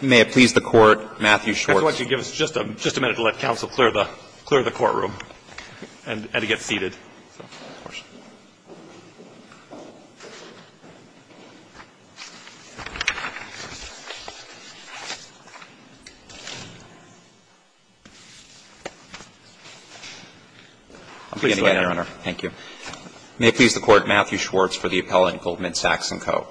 May it please the Court, Matthew Schwartz. I'd like to give us just a minute to let counsel clear the courtroom and to get seated. Of course. I'll begin again, Your Honor. Thank you. May it please the Court, Matthew Schwartz for the appellant Goldman Sachs & Co.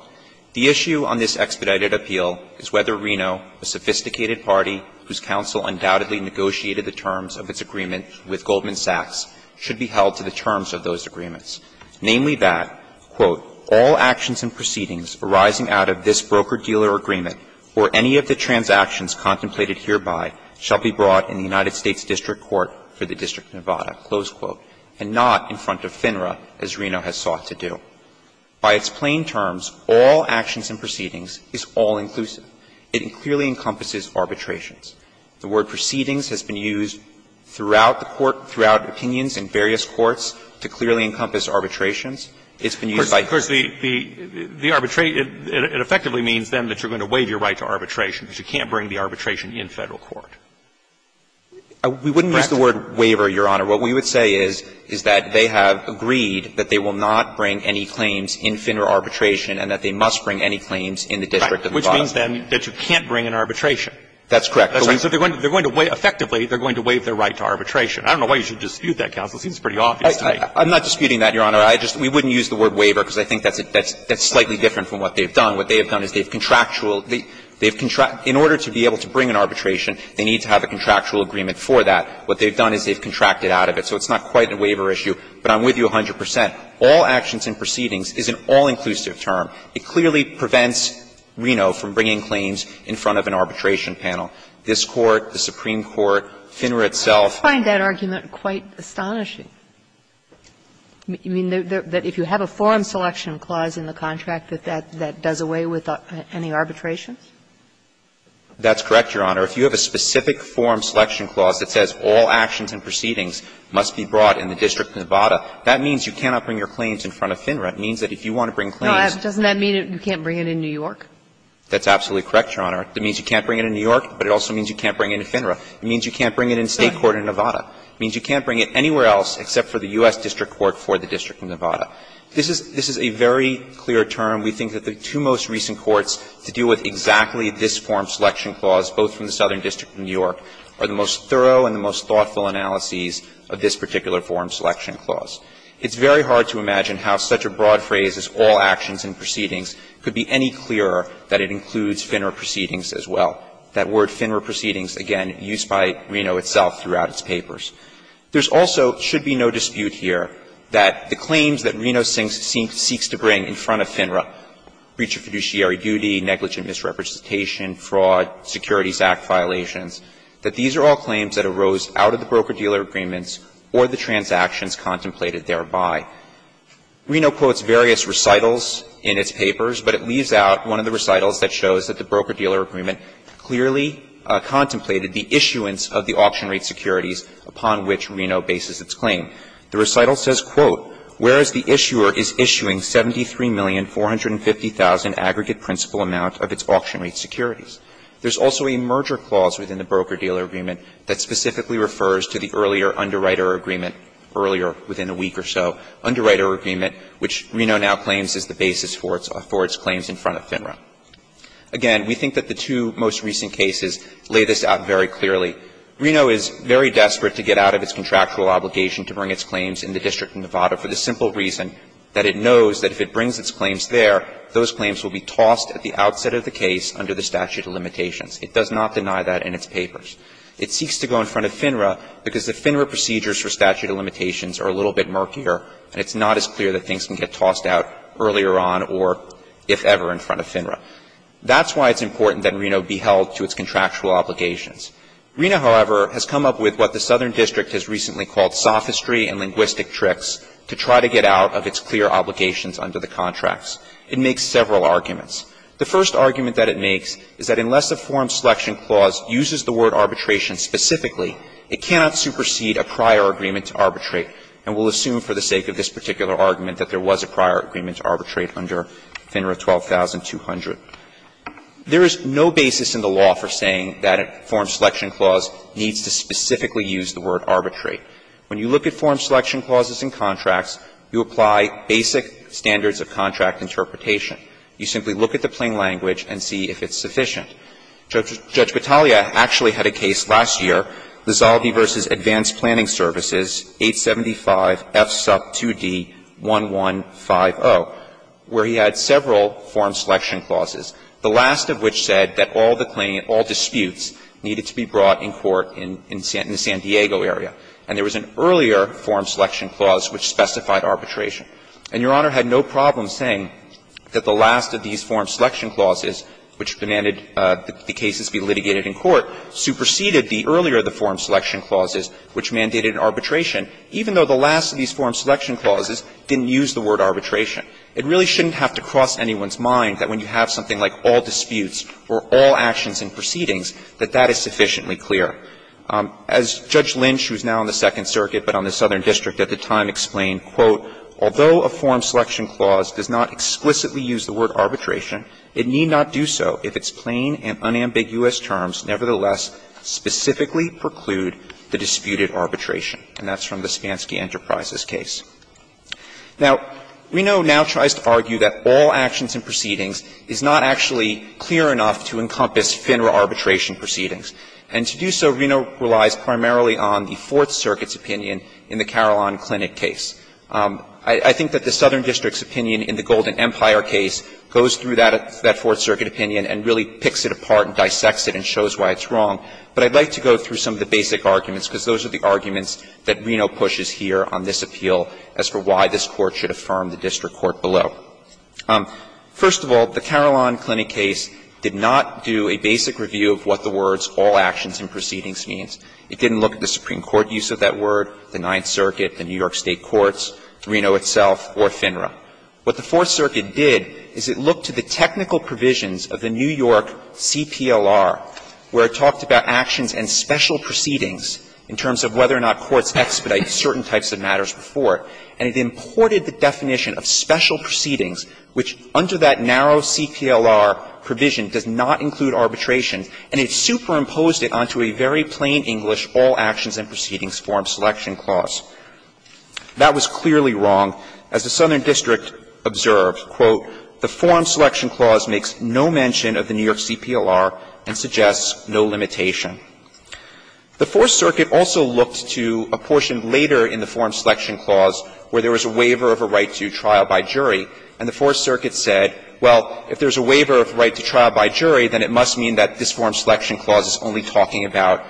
The issue on this expedited appeal is whether Reno, a sophisticated party whose counsel undoubtedly negotiated the terms of its agreement with Goldman Sachs, should be held to the terms of those agreements. Namely that, quote, all actions and proceedings arising out of this broker-dealer agreement or any of the transactions contemplated hereby shall be brought in the United States District Court for the District of Nevada, close quote, and not in front of FINRA as Reno has sought to do. By its plain terms, all actions and proceedings is all-inclusive. It clearly encompasses arbitrations. The word proceedings has been used throughout the Court, throughout opinions in various courts, to clearly encompass arbitrations. It's been used by courts. Of course, the arbitration, it effectively means, then, that you're going to waive your right to arbitration because you can't bring the arbitration in Federal court. We wouldn't use the word waiver, Your Honor. What we would say is, is that they have agreed that they will not bring any claims in FINRA arbitration and that they must bring any claims in the District of Nevada. Right. Which means, then, that you can't bring an arbitration. That's correct. So they're going to waive – effectively, they're going to waive their right to arbitration. I don't know why you should dispute that, counsel. It seems pretty obvious to me. I'm not disputing that, Your Honor. I just – we wouldn't use the word waiver because I think that's slightly different from what they've done. What they have done is they've contractual – they've – in order to be able to bring an arbitration, they need to have a contractual agreement for that. What they've done is they've contracted out of it. So it's not quite a waiver issue, but I'm with you 100 percent. All actions and proceedings is an all-inclusive term. It clearly prevents Reno from bringing claims in front of an arbitration panel. This Court, the Supreme Court, FINRA itself – I find that argument quite astonishing. You mean that if you have a form selection clause in the contract, that that does away with any arbitrations? That's correct, Your Honor. If you have a specific form selection clause that says all actions and proceedings must be brought in the District of Nevada, that means you cannot bring your claims in front of FINRA. It means that if you want to bring claims – Doesn't that mean you can't bring it in New York? That's absolutely correct, Your Honor. It means you can't bring it in New York, but it also means you can't bring it in FINRA. It means you can't bring it in State court in Nevada. It means you can't bring it anywhere else except for the U.S. District Court for the District of Nevada. This is – this is a very clear term. We think that the two most recent courts to deal with exactly this form selection clause, both from the Southern District and New York, are the most thorough and the most thoughtful analyses of this particular form selection clause. It's very hard to imagine how such a broad phrase as all actions and proceedings could be any clearer that it includes FINRA proceedings as well. That word FINRA proceedings, again, used by Reno itself throughout its papers. There's also, should be no dispute here, that the claims that Reno seeks to bring in front of FINRA, breach of fiduciary duty, negligent misrepresentation, fraud, Securities Act violations, that these are all claims that arose out of the broker-dealer agreements or the transactions contemplated thereby. Reno quotes various recitals in its papers, but it leaves out one of the recitals that shows that the broker-dealer agreement clearly contemplated the issuance of the auction rate securities upon which Reno bases its claim. The recital says, quote, There's also a merger clause within the broker-dealer agreement that specifically refers to the earlier underwriter agreement, earlier within a week or so, underwriter agreement, which Reno now claims is the basis for its claims in front of FINRA. Again, we think that the two most recent cases lay this out very clearly. Reno is very desperate to get out of its contractual obligation to bring its claims that if it brings its claims there, those claims will be tossed at the outset of the case under the statute of limitations. It does not deny that in its papers. It seeks to go in front of FINRA because the FINRA procedures for statute of limitations are a little bit murkier, and it's not as clear that things can get tossed out earlier on or, if ever, in front of FINRA. That's why it's important that Reno be held to its contractual obligations. Reno, however, has come up with what the Southern District has recently called sophistry and linguistic tricks to try to get out of its clear obligations under the contracts. It makes several arguments. The first argument that it makes is that unless a form selection clause uses the word arbitration specifically, it cannot supersede a prior agreement to arbitrate, and we'll assume for the sake of this particular argument that there was a prior agreement to arbitrate under FINRA 12200. There is no basis in the law for saying that a form selection clause needs to specifically use the word arbitrate. When you look at form selection clauses in contracts, you apply basic standards of contract interpretation. You simply look at the plain language and see if it's sufficient. Judge Battaglia actually had a case last year, Lizaldi v. Advanced Planning Services, 875 F. Sup. 2d. 1150, where he had several form selection clauses, the last of which said that all the claimant, all disputes, needed to be brought in court in the San Diego area. And there was an earlier form selection clause which specified arbitration. And Your Honor had no problem saying that the last of these form selection clauses, which demanded that the cases be litigated in court, superseded the earlier of the form selection clauses, which mandated arbitration, even though the last of these form selection clauses didn't use the word arbitration. It really shouldn't have to cross anyone's mind that when you have something like all disputes or all actions and proceedings, that that is sufficiently clear. As Judge Lynch, who is now on the Second Circuit but on the Southern District at the time, explained, quote, "...although a form selection clause does not explicitly use the word arbitration, it need not do so if its plain and unambiguous terms nevertheless specifically preclude the disputed arbitration." And that's from the Spansky Enterprises case. Now, Reno now tries to argue that all actions and proceedings is not actually clear enough to encompass FINRA arbitration proceedings. And to do so, Reno relies primarily on the Fourth Circuit's opinion in the Carillon Clinic case. I think that the Southern District's opinion in the Golden Empire case goes through that Fourth Circuit opinion and really picks it apart and dissects it and shows why it's wrong. But I'd like to go through some of the basic arguments, because those are the arguments that Reno pushes here on this appeal, as for why this Court should affirm the district court below. First of all, the Carillon Clinic case did not do a basic review of what the words all actions and proceedings means. It didn't look at the Supreme Court use of that word, the Ninth Circuit, the New York State courts, Reno itself, or FINRA. What the Fourth Circuit did is it looked to the technical provisions of the New York CPLR, where it talked about actions and special proceedings in terms of whether or not courts expedite certain types of matters before, and it imported the definition of special proceedings, which under that narrow CPLR provision does not include arbitration, and it superimposed it onto a very plain English all actions and proceedings form selection clause. That was clearly wrong. As the Southern District observed, quote, the form selection clause makes no mention of the New York CPLR and suggests no limitation. The Fourth Circuit also looked to a portion later in the form selection clause where there was a waiver of a right to trial by jury, and the Fourth Circuit said, well, if there's a waiver of right to trial by jury, then it must mean that this form selection clause is only talking about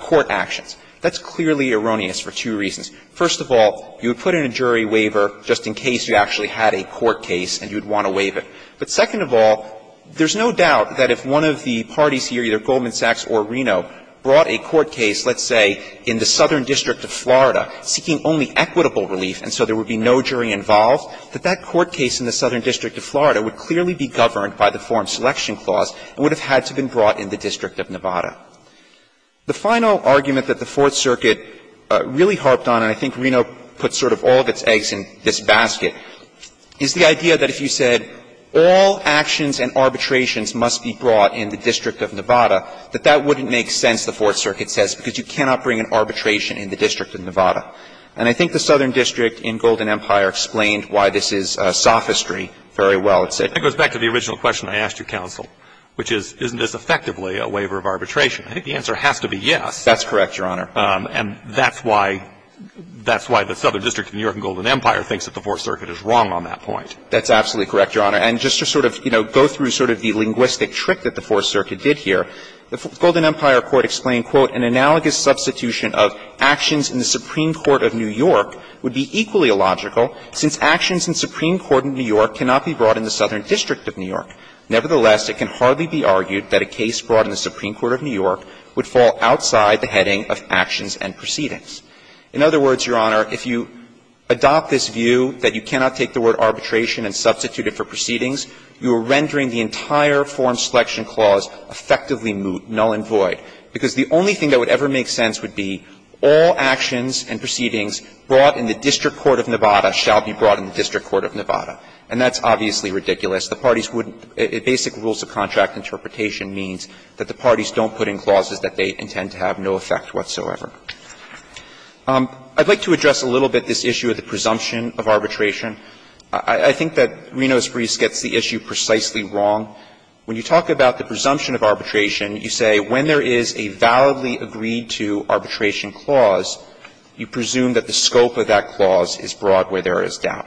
court actions. That's clearly erroneous for two reasons. First of all, you would put in a jury waiver just in case you actually had a court case and you would want to waive it. But second of all, there's no doubt that if one of the parties here, either Goldman Sachs or Reno, brought a court case, let's say, in the Southern District of Florida, seeking only equitable relief and so there would be no jury involved, that that court case in the Southern District of Florida would clearly be governed by the form selection clause and would have had to have been brought in the District of Nevada. The final argument that the Fourth Circuit really harped on, and I think Reno put sort of all of its eggs in this basket, is the idea that if you said all actions and arbitrations must be brought in the District of Nevada, that that wouldn't make sense, the Fourth Circuit says, because you cannot bring an arbitration in the District of Nevada. And I think the Southern District in Golden Empire explained why this is sophistry very well. It said that goes back to the original question I asked your counsel, which is, isn't this effectively a waiver of arbitration? I think the answer has to be yes. That's correct, Your Honor. And that's why the Southern District of New York in Golden Empire thinks that the Fourth Circuit is wrong on that point. That's absolutely correct, Your Honor. And just to sort of, you know, go through sort of the linguistic trick that the Fourth Circuit did here, the Golden Empire Court explained, quote, "...an analogous substitution of actions in the Supreme Court of New York would be equally illogical, since actions in the Supreme Court of New York cannot be brought in the Southern District of New York. Nevertheless, it can hardly be argued that a case brought in the Supreme Court of New York would fall outside the heading of actions and proceedings." In other words, Your Honor, if you adopt this view that you cannot take the word arbitration and substitute it for proceedings, you are rendering the entire form selection clause effectively moot, null and void, because the only thing that would ever make sense would be all actions and proceedings brought in the District Court of Nevada shall be brought in the District Court of Nevada. And that's obviously ridiculous. The parties wouldn't be able to do that. Basic rules of contract interpretation means that the parties don't put in clauses that they intend to have no effect whatsoever. I'd like to address a little bit this issue of the presumption of arbitration. I think that Rinos-Brees gets the issue precisely wrong. When you talk about the presumption of arbitration, you say when there is a validly agreed-to arbitration clause, you presume that the scope of that clause is broad where there is doubt.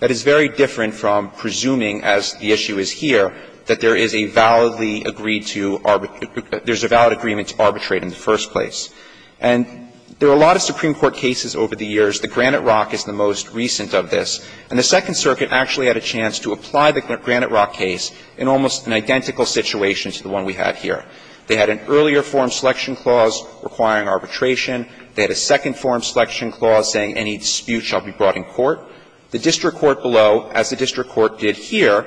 That is very different from presuming, as the issue is here, that there is a validly agreed-to arbitrary – there's a valid agreement to arbitrate in the first place. And there are a lot of Supreme Court cases over the years. The Granite Rock is the most recent of this. And the Second Circuit actually had a chance to apply the Granite Rock case in almost an identical situation to the one we had here. They had an earlier-form selection clause requiring arbitration. They had a second-form selection clause saying any dispute shall be brought in court. The district court below, as the district court did here,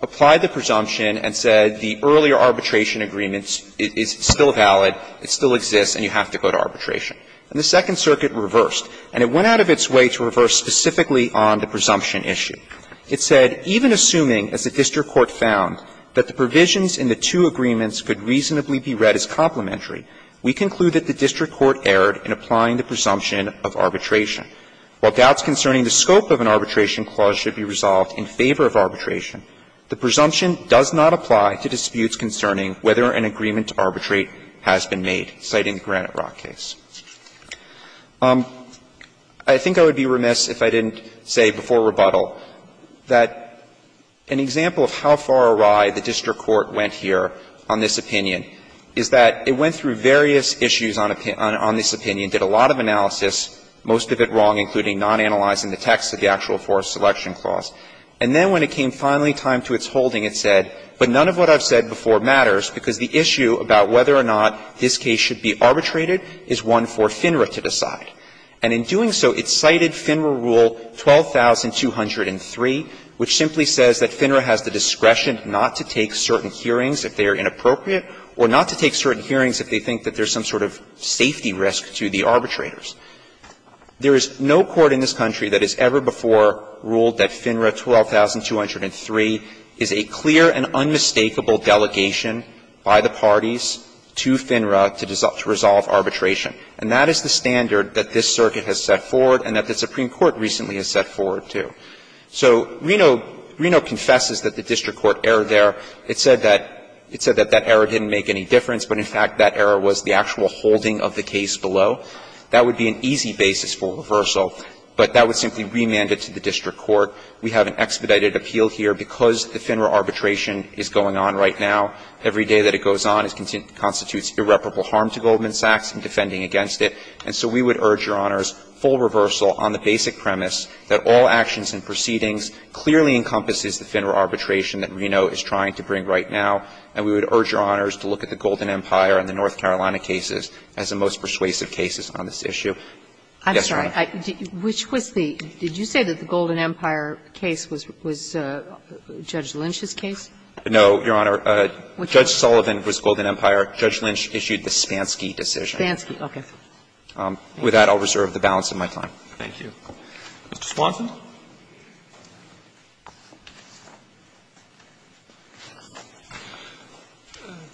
applied the presumption and said the earlier arbitration agreement is still valid, it still exists, and you have to go to arbitration. And the Second Circuit reversed. And it went out of its way to reverse specifically on the presumption issue. It said, ''Even assuming, as the district court found, that the provisions in the two agreements could reasonably be read as complementary, we conclude that the district court erred in applying the presumption of arbitration. While doubts concerning the scope of an arbitration clause should be resolved in favor of arbitration, the presumption does not apply to disputes concerning whether an agreement to arbitrate has been made,'' citing the Granite Rock case. I think I would be remiss if I didn't say before rebuttal that an example of how far awry the district court went here on this opinion is that it went through various issues on this opinion, did a lot of analysis, most of it wrong, including non-analyzing the text of the actual forced selection clause. And then when it came finally time to its holding, it said, ''But none of what I've said before matters, because the issue about whether or not this case should be arbitrated is one for FINRA to decide.'' And in doing so, it cited FINRA Rule 12203, which simply says that FINRA has the discretion not to take certain hearings if they are inappropriate or not to take certain hearings if they think that there's some sort of safety risk to the arbitrators. There is no court in this country that has ever before ruled that FINRA 12203 is a clear and unmistakable delegation by the parties to FINRA to resolve arbitration. And that is the standard that this circuit has set forward and that the Supreme Court recently has set forward, too. So Reno confesses that the district court error there. It said that that error didn't make any difference, but in fact that error was the actual holding of the case below. That would be an easy basis for reversal, but that would simply remand it to the district court. We have an expedited appeal here because the FINRA arbitration is going on right now. Every day that it goes on constitutes irreparable harm to Goldman Sachs in defending against it. And so we would urge Your Honors, full reversal on the basic premise that all actions and proceedings clearly encompasses the FINRA arbitration that Reno is trying to bring right now. And we would urge Your Honors to look at the Golden Empire and the North Carolina cases as the most persuasive cases on this issue. Yes, Your Honor. Which was the – did you say that the Golden Empire case was Judge Lynch's case? No, Your Honor. Judge Sullivan was Golden Empire. Judge Lynch issued the Spansky decision. Spansky, okay. With that, I'll reserve the balance of my time. Thank you. Mr. Swanson.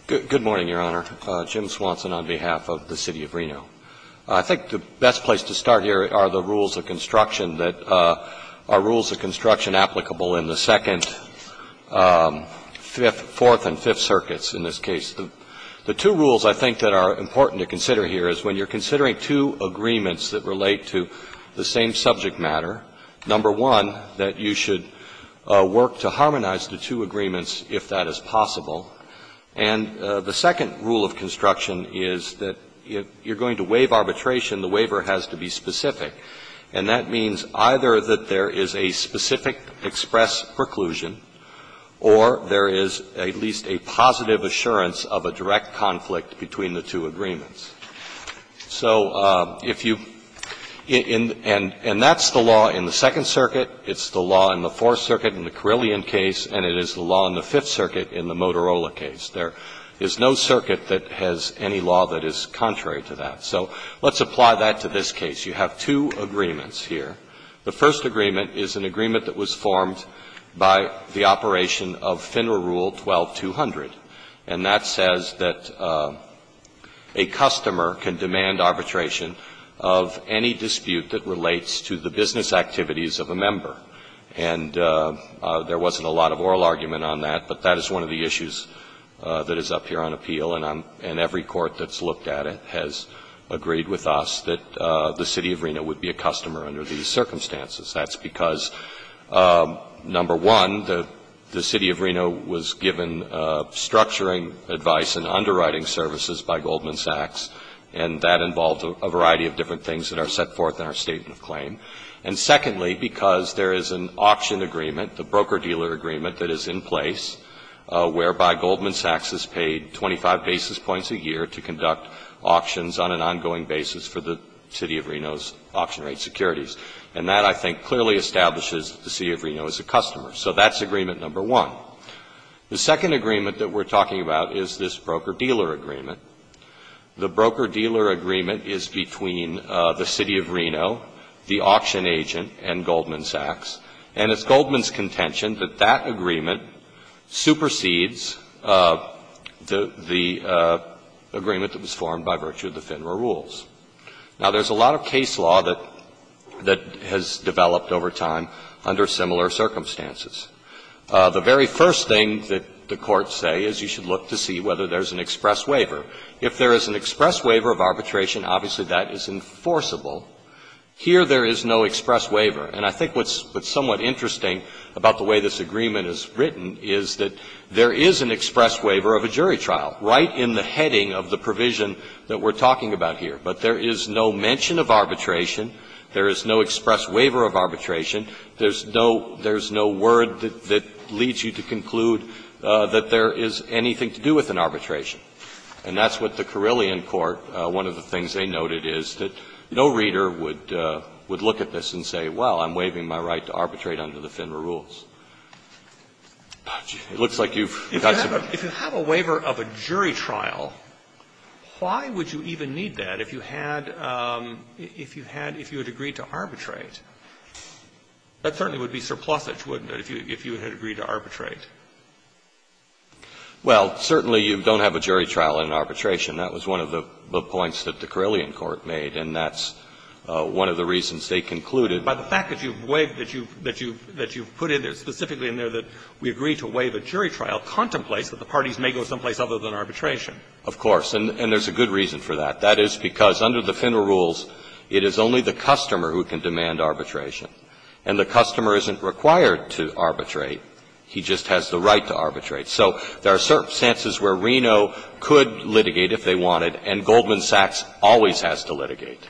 Good morning, Your Honor. Jim Swanson on behalf of the City of Reno. I think the best place to start here are the rules of construction that are rules of construction applicable in the Second, Fourth and Fifth Circuits in this case. The two rules I think that are important to consider here is when you're considering two agreements that relate to the same subject matter, number one, that you should work to harmonize the two agreements if that is possible. And the second rule of construction is that if you're going to waive arbitration, the waiver has to be specific. And that means either that there is a specific express preclusion or there is at least a positive assurance of a direct conflict between the two agreements. So if you – and that's the law in the Second Circuit, it's the law in the Fourth Circuit in the Motorola case. There is no circuit that has any law that is contrary to that. So let's apply that to this case. You have two agreements here. The first agreement is an agreement that was formed by the operation of FINRA Rule 12-200, and that says that a customer can demand arbitration of any dispute that relates to the business activities of a member. And there wasn't a lot of oral argument on that, but that is one of the issues that is up here on appeal, and every court that's looked at it has agreed with us that the City of Reno would be a customer under these circumstances. That's because, number one, the City of Reno was given structuring advice and underwriting services by Goldman Sachs, and that involved a variety of different things that are set forth in our Statement of Claim. And secondly, because there is an auction agreement, the broker-dealer agreement, that is in place whereby Goldman Sachs is paid 25 basis points a year to conduct auctions on an ongoing basis for the City of Reno's auction rate securities. And that, I think, clearly establishes that the City of Reno is a customer. So that's agreement number one. The second agreement that we're talking about is this broker-dealer agreement. The broker-dealer agreement is between the City of Reno, the auction agent, and Goldman Sachs, and it's Goldman's contention that that agreement supersedes the agreement that was formed by virtue of the FINRA rules. Now, there's a lot of case law that has developed over time under similar circumstances. The very first thing that the courts say is you should look to see whether there's an express waiver. If there is an express waiver of arbitration, obviously that is enforceable. Here, there is no express waiver. And I think what's somewhat interesting about the way this agreement is written is that there is an express waiver of a jury trial right in the heading of the provision that we're talking about here. But there is no mention of arbitration. There is no express waiver of arbitration. There's no word that leads you to conclude that there is anything to do with an arbitration. And that's what the Carilion Court, one of the things they noted, is that no reader would look at this and say, well, I'm waiving my right to arbitrate under the FINRA rules. It looks like you've got some questions. Roberts. If you have a waiver of a jury trial, why would you even need that if you had, if you had, if you had agreed to arbitrate? That certainly would be surplusage, wouldn't it, if you had agreed to arbitrate? Well, certainly you don't have a jury trial in arbitration. That was one of the points that the Carilion Court made, and that's one of the reasons they concluded. But the fact that you've waived, that you've, that you've put in there, specifically in there, that we agree to waive a jury trial contemplates that the parties may go someplace other than arbitration. Of course. And there's a good reason for that. That is because under the FINRA rules, it is only the customer who can demand arbitration. And the customer isn't required to arbitrate. He just has the right to arbitrate. So there are certain instances where Reno could litigate if they wanted, and Goldman Sachs always has to litigate.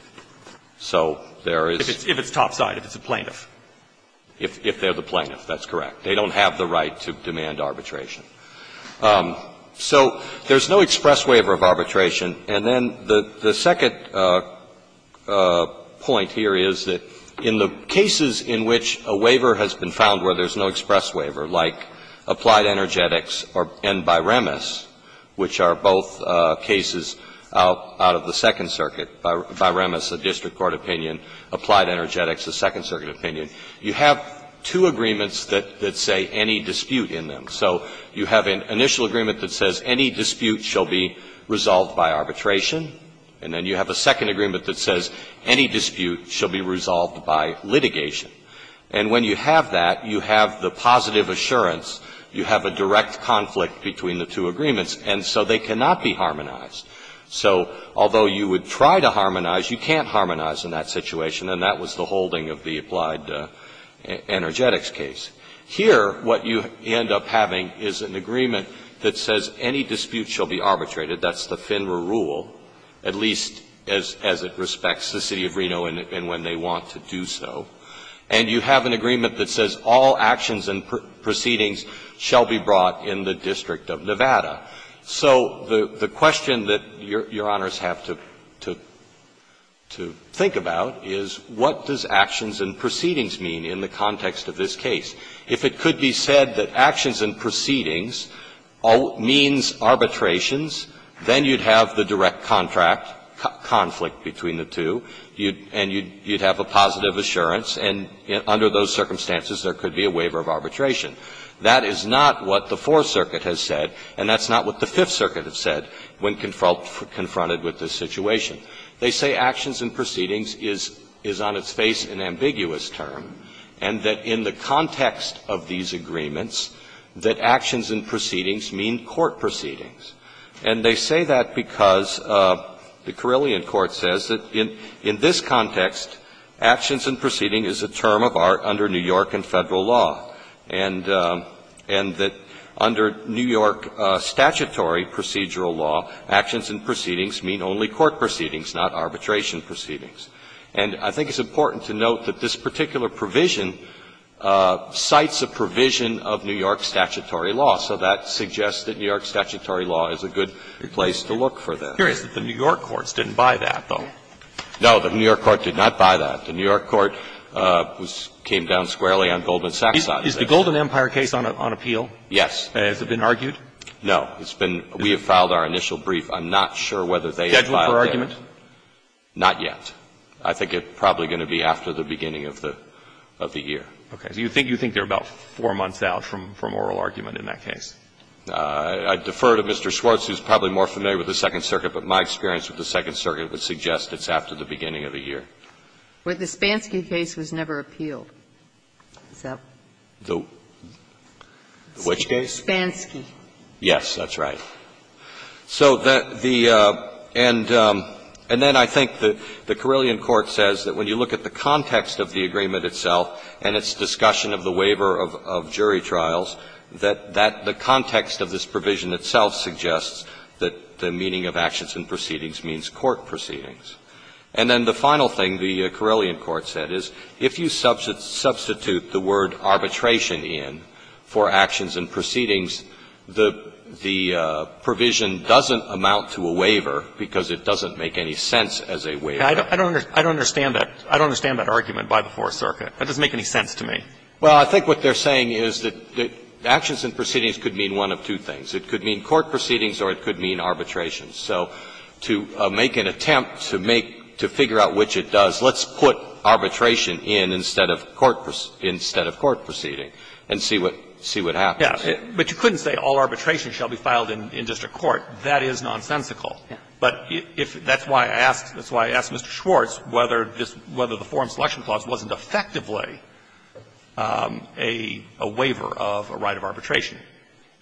So there is there is. If it's topside, if it's a plaintiff. If they're the plaintiff, that's correct. They don't have the right to demand arbitration. So there's no express waiver of arbitration. And then the second point here is that in the cases in which a waiver has been found where there's no express waiver, like Applied Energetics and Byremas, which are both cases out of the Second Circuit, Byremas, a district court opinion, Applied Energetics, a Second Circuit opinion, you have two agreements that say any dispute in them. So you have an initial agreement that says any dispute shall be resolved by arbitration. And then you have a second agreement that says any dispute shall be resolved by litigation. And when you have that, you have the positive assurance, you have a direct conflict between the two agreements, and so they cannot be harmonized. So although you would try to harmonize, you can't harmonize in that situation, and that was the holding of the Applied Energetics case. Here, what you end up having is an agreement that says any dispute shall be arbitrated. That's the FINRA rule, at least as it respects the City of Reno and when they want to do so. And you have an agreement that says all actions and proceedings shall be brought in the District of Nevada. So the question that Your Honors have to think about is what does actions and proceedings mean in the context of this case? If it could be said that actions and proceedings means arbitrations, then you'd have the direct contract, conflict between the two, and you'd have a positive assurance, and under those circumstances, there could be a waiver of arbitration. That is not what the Fourth Circuit has said, and that's not what the Fifth Circuit has said when confronted with this situation. They say actions and proceedings is on its face an ambiguous term, and that in the context of these agreements, that actions and proceedings mean court proceedings. And they say that because the Carilion Court says that in this context, actions and proceedings is a term of art under New York and Federal law, and that under New York statutory procedural law, actions and proceedings mean only court proceedings, not arbitration proceedings. And I think it's important to note that this particular provision cites a provision of New York statutory law. So that suggests that New York statutory law is a good place to look for that. Breyer, the New York courts didn't buy that, though. No, the New York court did not buy that. The New York court came down squarely on Goldman Sachs on this. Is the Golden Empire case on appeal? Yes. Has it been argued? No. It's been – we have filed our initial brief. I'm not sure whether they have filed it. Scheduled for argument? Not yet. I think it's probably going to be after the beginning of the year. Okay. So you think they're about 4 months out from oral argument in that case? I defer to Mr. Schwartz, who's probably more familiar with the Second Circuit, but my experience with the Second Circuit would suggest it's after the beginning of the year. But the Spansky case was never appealed. The which case? Spansky. Yes, that's right. So the – and then I think the Carilion court says that when you look at the context of the agreement itself and its discussion of the waiver of jury trials, that the context of this provision itself suggests that the meaning of actions and proceedings means court proceedings. And then the final thing the Carilion court said is, if you substitute the word arbitration in for actions and proceedings, the provision doesn't amount to a waiver, because it doesn't make any sense as a waiver. I don't understand that. I don't understand that argument by the Fourth Circuit. That doesn't make any sense to me. Well, I think what they're saying is that actions and proceedings could mean one of two things. It could mean court proceedings or it could mean arbitration. So to make an attempt to make – to figure out which it does, let's put arbitration in instead of court – instead of court proceeding and see what happens. Yes. But you couldn't say all arbitration shall be filed in district court. That is nonsensical. But if – that's why I asked – that's why I asked Mr. Schwartz whether this – whether the Forum Selection Clause wasn't effectively a waiver of a right of arbitration.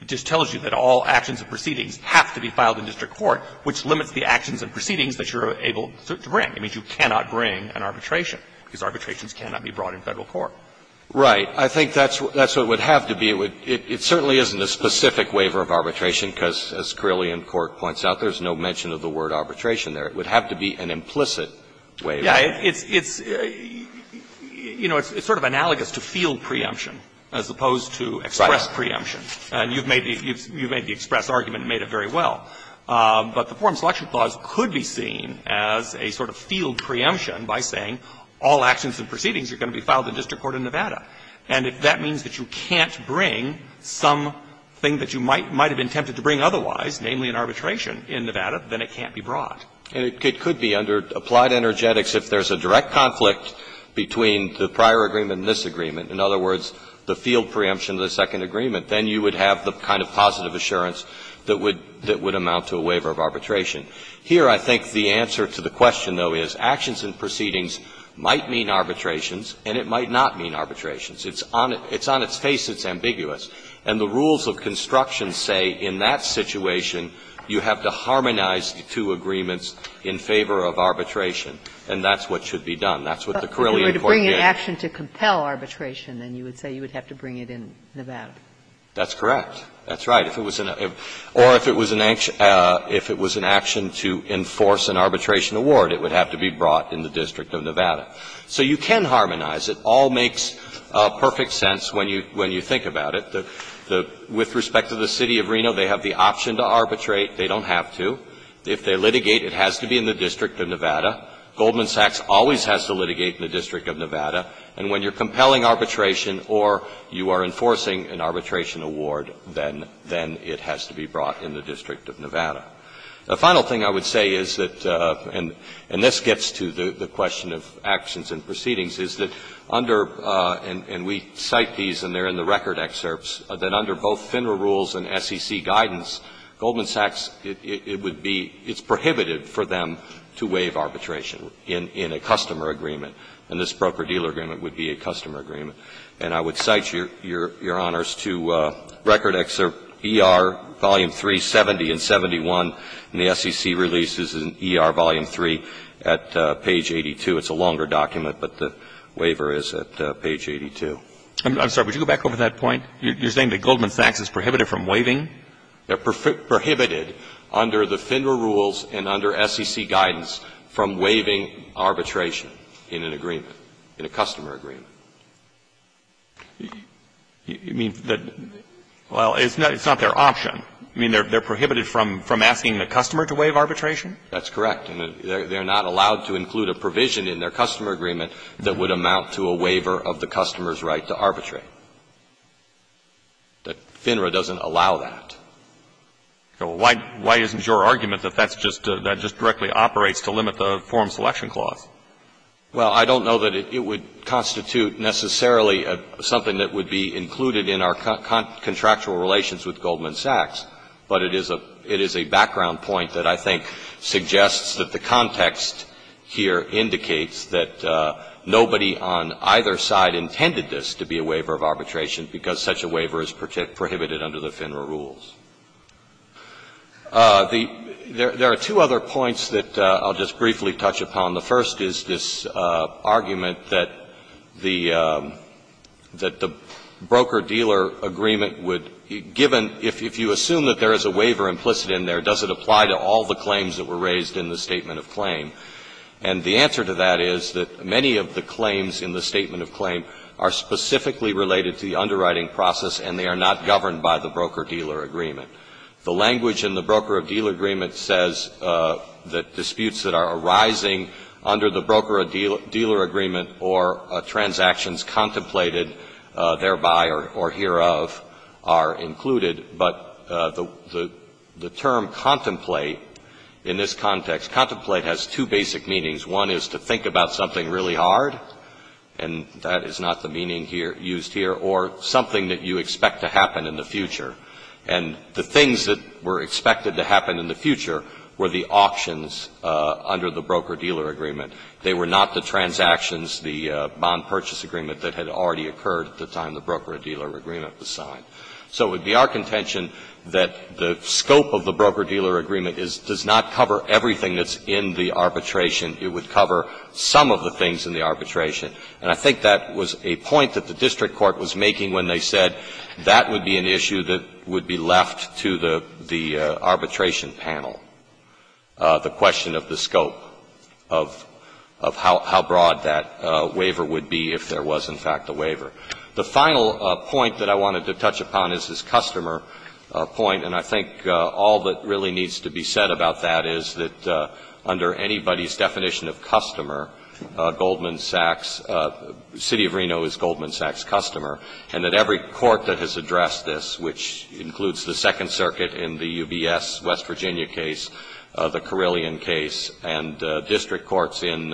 It just tells you that all actions and proceedings have to be filed in district court, which limits the actions and proceedings that you're able to bring. It means you cannot bring an arbitration, because arbitrations cannot be brought in Federal court. Right. I think that's what – that's what it would have to be. It would – it certainly isn't a specific waiver of arbitration, because as Carillion Court points out, there's no mention of the word arbitration there. It would have to be an implicit waiver. Yeah. It's – it's, you know, it's sort of analogous to field preemption as opposed to express preemption. And you've made the – you've made the express argument and made it very well. But the Forum Selection Clause could be seen as a sort of field preemption by saying all actions and proceedings are going to be filed in district court in Nevada. And if that means that you can't bring something that you might – might have attempted to bring otherwise, namely an arbitration in Nevada, then it can't be brought. And it could be under applied energetics if there's a direct conflict between the prior agreement and this agreement. In other words, the field preemption of the second agreement, then you would have the kind of positive assurance that would – that would amount to a waiver of arbitration. Here, I think the answer to the question, though, is actions and proceedings might mean arbitrations and it might not mean arbitrations. It's on – it's on its face it's ambiguous. And the rules of construction say in that situation you have to harmonize the two agreements in favor of arbitration, and that's what should be done. That's what the Carillion Court gave. If it was an action to compel arbitration, then you would say you would have to bring it in Nevada. That's correct. That's right. If it was an – or if it was an action to enforce an arbitration award, it would have to be brought in the district of Nevada. So you can harmonize. It all makes perfect sense when you – when you think about it. The – with respect to the City of Reno, they have the option to arbitrate. They don't have to. If they litigate, it has to be in the district of Nevada. Goldman Sachs always has to litigate in the district of Nevada. And when you're compelling arbitration or you are enforcing an arbitration award, then – then it has to be brought in the district of Nevada. The final thing I would say is that – and this gets to the question of actions and proceedings – is that under – and we cite these and they're in the record excerpts – that under both FINRA rules and SEC guidance, Goldman Sachs, it would be – it's prohibited for them to waive arbitration in – in a customer agreement. And this broker-dealer agreement would be a customer agreement. And I would cite your – your honors to Record Excerpt ER, Volume 3, 70 and 71. And the SEC releases in ER Volume 3 at page 82. It's a longer document, but the waiver is at page 82. I'm sorry. Would you go back over that point? You're saying that Goldman Sachs is prohibited from waiving? They're prohibited under the FINRA rules and under SEC guidance from waiving arbitration in an agreement, in a customer agreement. You mean that – well, it's not their option. You mean they're prohibited from – from asking the customer to waive arbitration? That's correct. And they're not allowed to include a provision in their customer agreement that would amount to a waiver of the customer's right to arbitrate. That FINRA doesn't allow that. Well, why – why isn't your argument that that's just – that just directly operates to limit the form selection clause? Well, I don't know that it would constitute necessarily something that would be included in our contractual relations with Goldman Sachs. But it is a – it is a background point that I think suggests that the context here indicates that nobody on either side intended this to be a waiver of arbitration. Because such a waiver is prohibited under the FINRA rules. The – there are two other points that I'll just briefly touch upon. The first is this argument that the – that the broker-dealer agreement would – given – if you assume that there is a waiver implicit in there, does it apply to all the claims that were raised in the statement of claim? And the answer to that is that many of the claims in the statement of claim are specifically related to the underwriting process, and they are not governed by the broker-dealer agreement. The language in the broker-dealer agreement says that disputes that are arising under the broker-dealer agreement or transactions contemplated thereby or hear of are included. But the term contemplate in this context – contemplate has two basic meanings. One is to think about something really hard, and that is not the meaning here – used here. Or something that you expect to happen in the future. And the things that were expected to happen in the future were the auctions under the broker-dealer agreement. They were not the transactions, the bond purchase agreement that had already occurred at the time the broker-dealer agreement was signed. So it would be our contention that the scope of the broker-dealer agreement is – does not cover everything that's in the arbitration. It would cover some of the things in the arbitration. And I think that was a point that the district court was making when they said that would be an issue that would be left to the arbitration panel, the question of the scope of how broad that waiver would be if there was, in fact, a waiver. The final point that I wanted to touch upon is this customer point. And I think all that really needs to be said about that is that under anybody's definition of customer, Goldman Sachs – City of Reno is Goldman Sachs' customer, and that every court that has addressed this, which includes the Second Circuit in the UBS West Virginia case, the Carillion case, and district courts in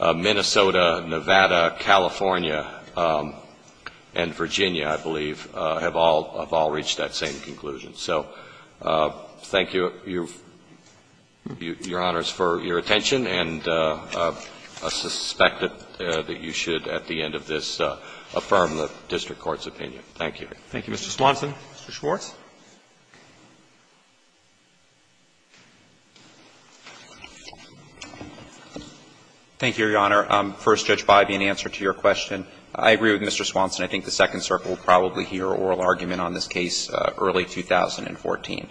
Minnesota, Nevada, California, and Virginia, I believe, have all reached that same conclusion. So thank you, Your Honors, for your attention, and I suspect that you should, at the end of this, affirm the district court's opinion. Thank you. Thank you, Mr. Swanson. Mr. Schwartz. Thank you, Your Honor. First, Judge Biby, in answer to your question, I agree with Mr. Swanson. I think the Second Circuit will probably hear oral argument on this case early 2014.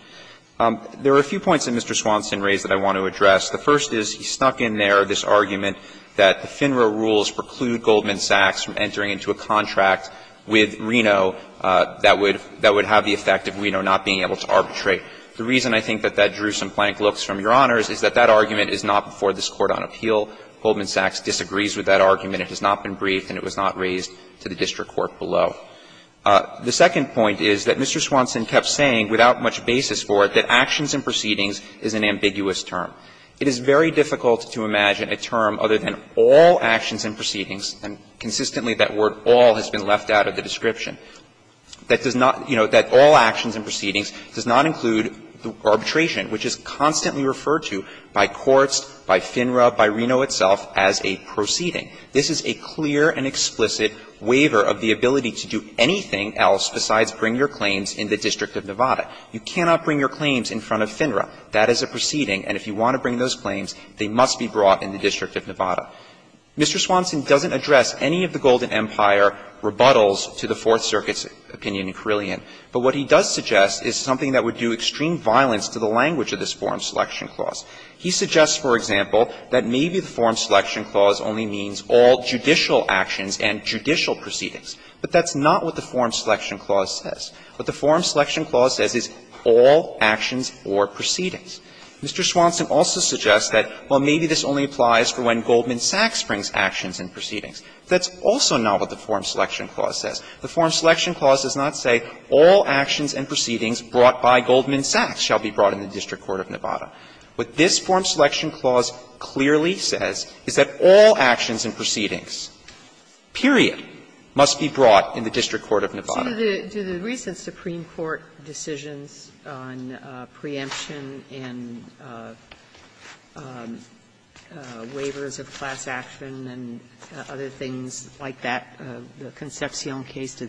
There are a few points that Mr. Swanson raised that I want to address. The first is he snuck in there this argument that the FINRA rules preclude Goldman Sachs from entering into a contract with Reno that would have the effect of Reno not being able to arbitrate. The reason I think that that drew some blank looks from Your Honors is that that argument is not before this Court on Appeal. Goldman Sachs disagrees with that argument. It has not been briefed and it was not raised to the district court below. The second point is that Mr. Swanson kept saying, without much basis for it, that actions and proceedings is an ambiguous term. It is very difficult to imagine a term other than all actions and proceedings and consistently that word all has been left out of the description, that does not you know, that all actions and proceedings does not include arbitration, which is constantly referred to by courts, by FINRA, by Reno itself as a proceeding. This is a clear and explicit waiver of the ability to do anything else besides bring your claims in the District of Nevada. You cannot bring your claims in front of FINRA. That is a proceeding, and if you want to bring those claims, they must be brought in the District of Nevada. Mr. Swanson doesn't address any of the Golden Empire rebuttals to the Fourth Circuit's opinion in Carillion. But what he does suggest is something that would do extreme violence to the language of this Form Selection Clause. He suggests, for example, that maybe the Form Selection Clause only means all judicial actions and judicial proceedings. But that's not what the Form Selection Clause says. What the Form Selection Clause says is all actions or proceedings. Mr. Swanson also suggests that, well, maybe this only applies for when Goldman Sachs brings actions and proceedings. That's also not what the Form Selection Clause says. The Form Selection Clause does not say all actions and proceedings brought by Goldman Sachs in the District Court of Nevada. What this Form Selection Clause clearly says is that all actions and proceedings, period, must be brought in the District Court of Nevada. Sotomayor, do the recent Supreme Court decisions on preemption and waivers of class action and other things like that, the Concepcion case,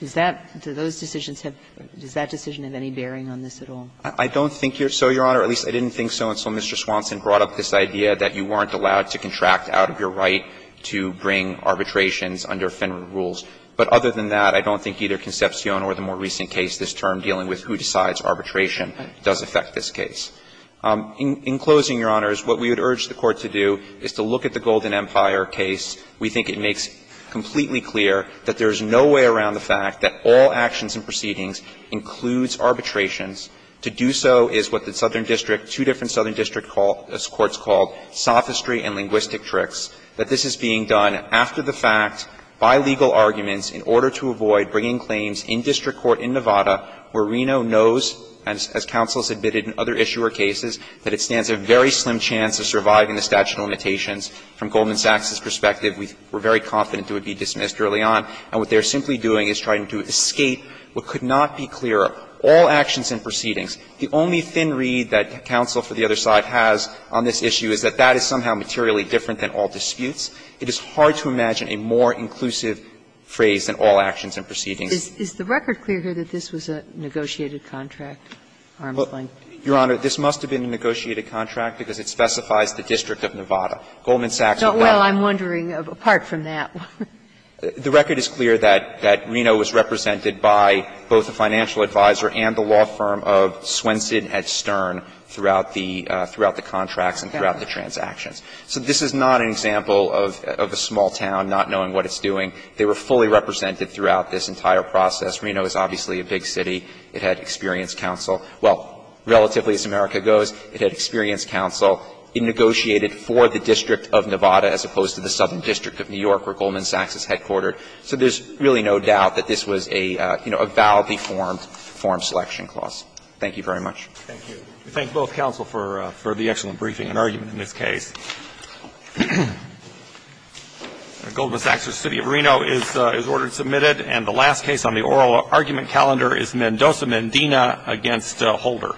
does that, do those decisions have, does that decision have any bearing on this at all? I don't think so, Your Honor. At least, I didn't think so until Mr. Swanson brought up this idea that you weren't allowed to contract out of your right to bring arbitrations under Fenron rules. But other than that, I don't think either Concepcion or the more recent case this term dealing with who decides arbitration does affect this case. In closing, Your Honors, what we would urge the Court to do is to look at the Golden Empire case. We think it makes completely clear that there is no way around the fact that all actions and proceedings includes arbitrations. To do so is what the southern district, two different southern district courts called sophistry and linguistic tricks, that this is being done after the fact, by legal arguments, in order to avoid bringing claims in district court in Nevada where Reno knows, as counsel has admitted in other issuer cases, that it stands a very slim chance of surviving the statute of limitations. From Goldman Sachs's perspective, we're very confident it would be dismissed early on. And what they're simply doing is trying to escape what could not be clearer. All actions and proceedings. The only thin reed that counsel for the other side has on this issue is that that is somehow materially different than all disputes. It is hard to imagine a more inclusive phrase than all actions and proceedings. Is the record clear here that this was a negotiated contract, Armstrong? Your Honor, this must have been a negotiated contract because it specifies the district of Nevada. Goldman Sachs would not have done that. Well, I'm wondering, apart from that one. The record is clear that Reno was represented by both the financial advisor and the law firm of Swenson at Stern throughout the contracts and throughout the transactions. So this is not an example of a small town not knowing what it's doing. They were fully represented throughout this entire process. Reno is obviously a big city. It had experienced counsel. Well, relatively, as America goes, it had experienced counsel. It negotiated for the district of Nevada as opposed to the southern district of New York, where Goldman Sachs is headquartered. So there's really no doubt that this was a, you know, a validly formed form selection clause. Thank you very much. Thank you. We thank both counsel for the excellent briefing and argument in this case. Goldman Sachs v. City of Reno is ordered and submitted. And the last case on the oral argument calendar is Mendoza-Mendina v. Holder.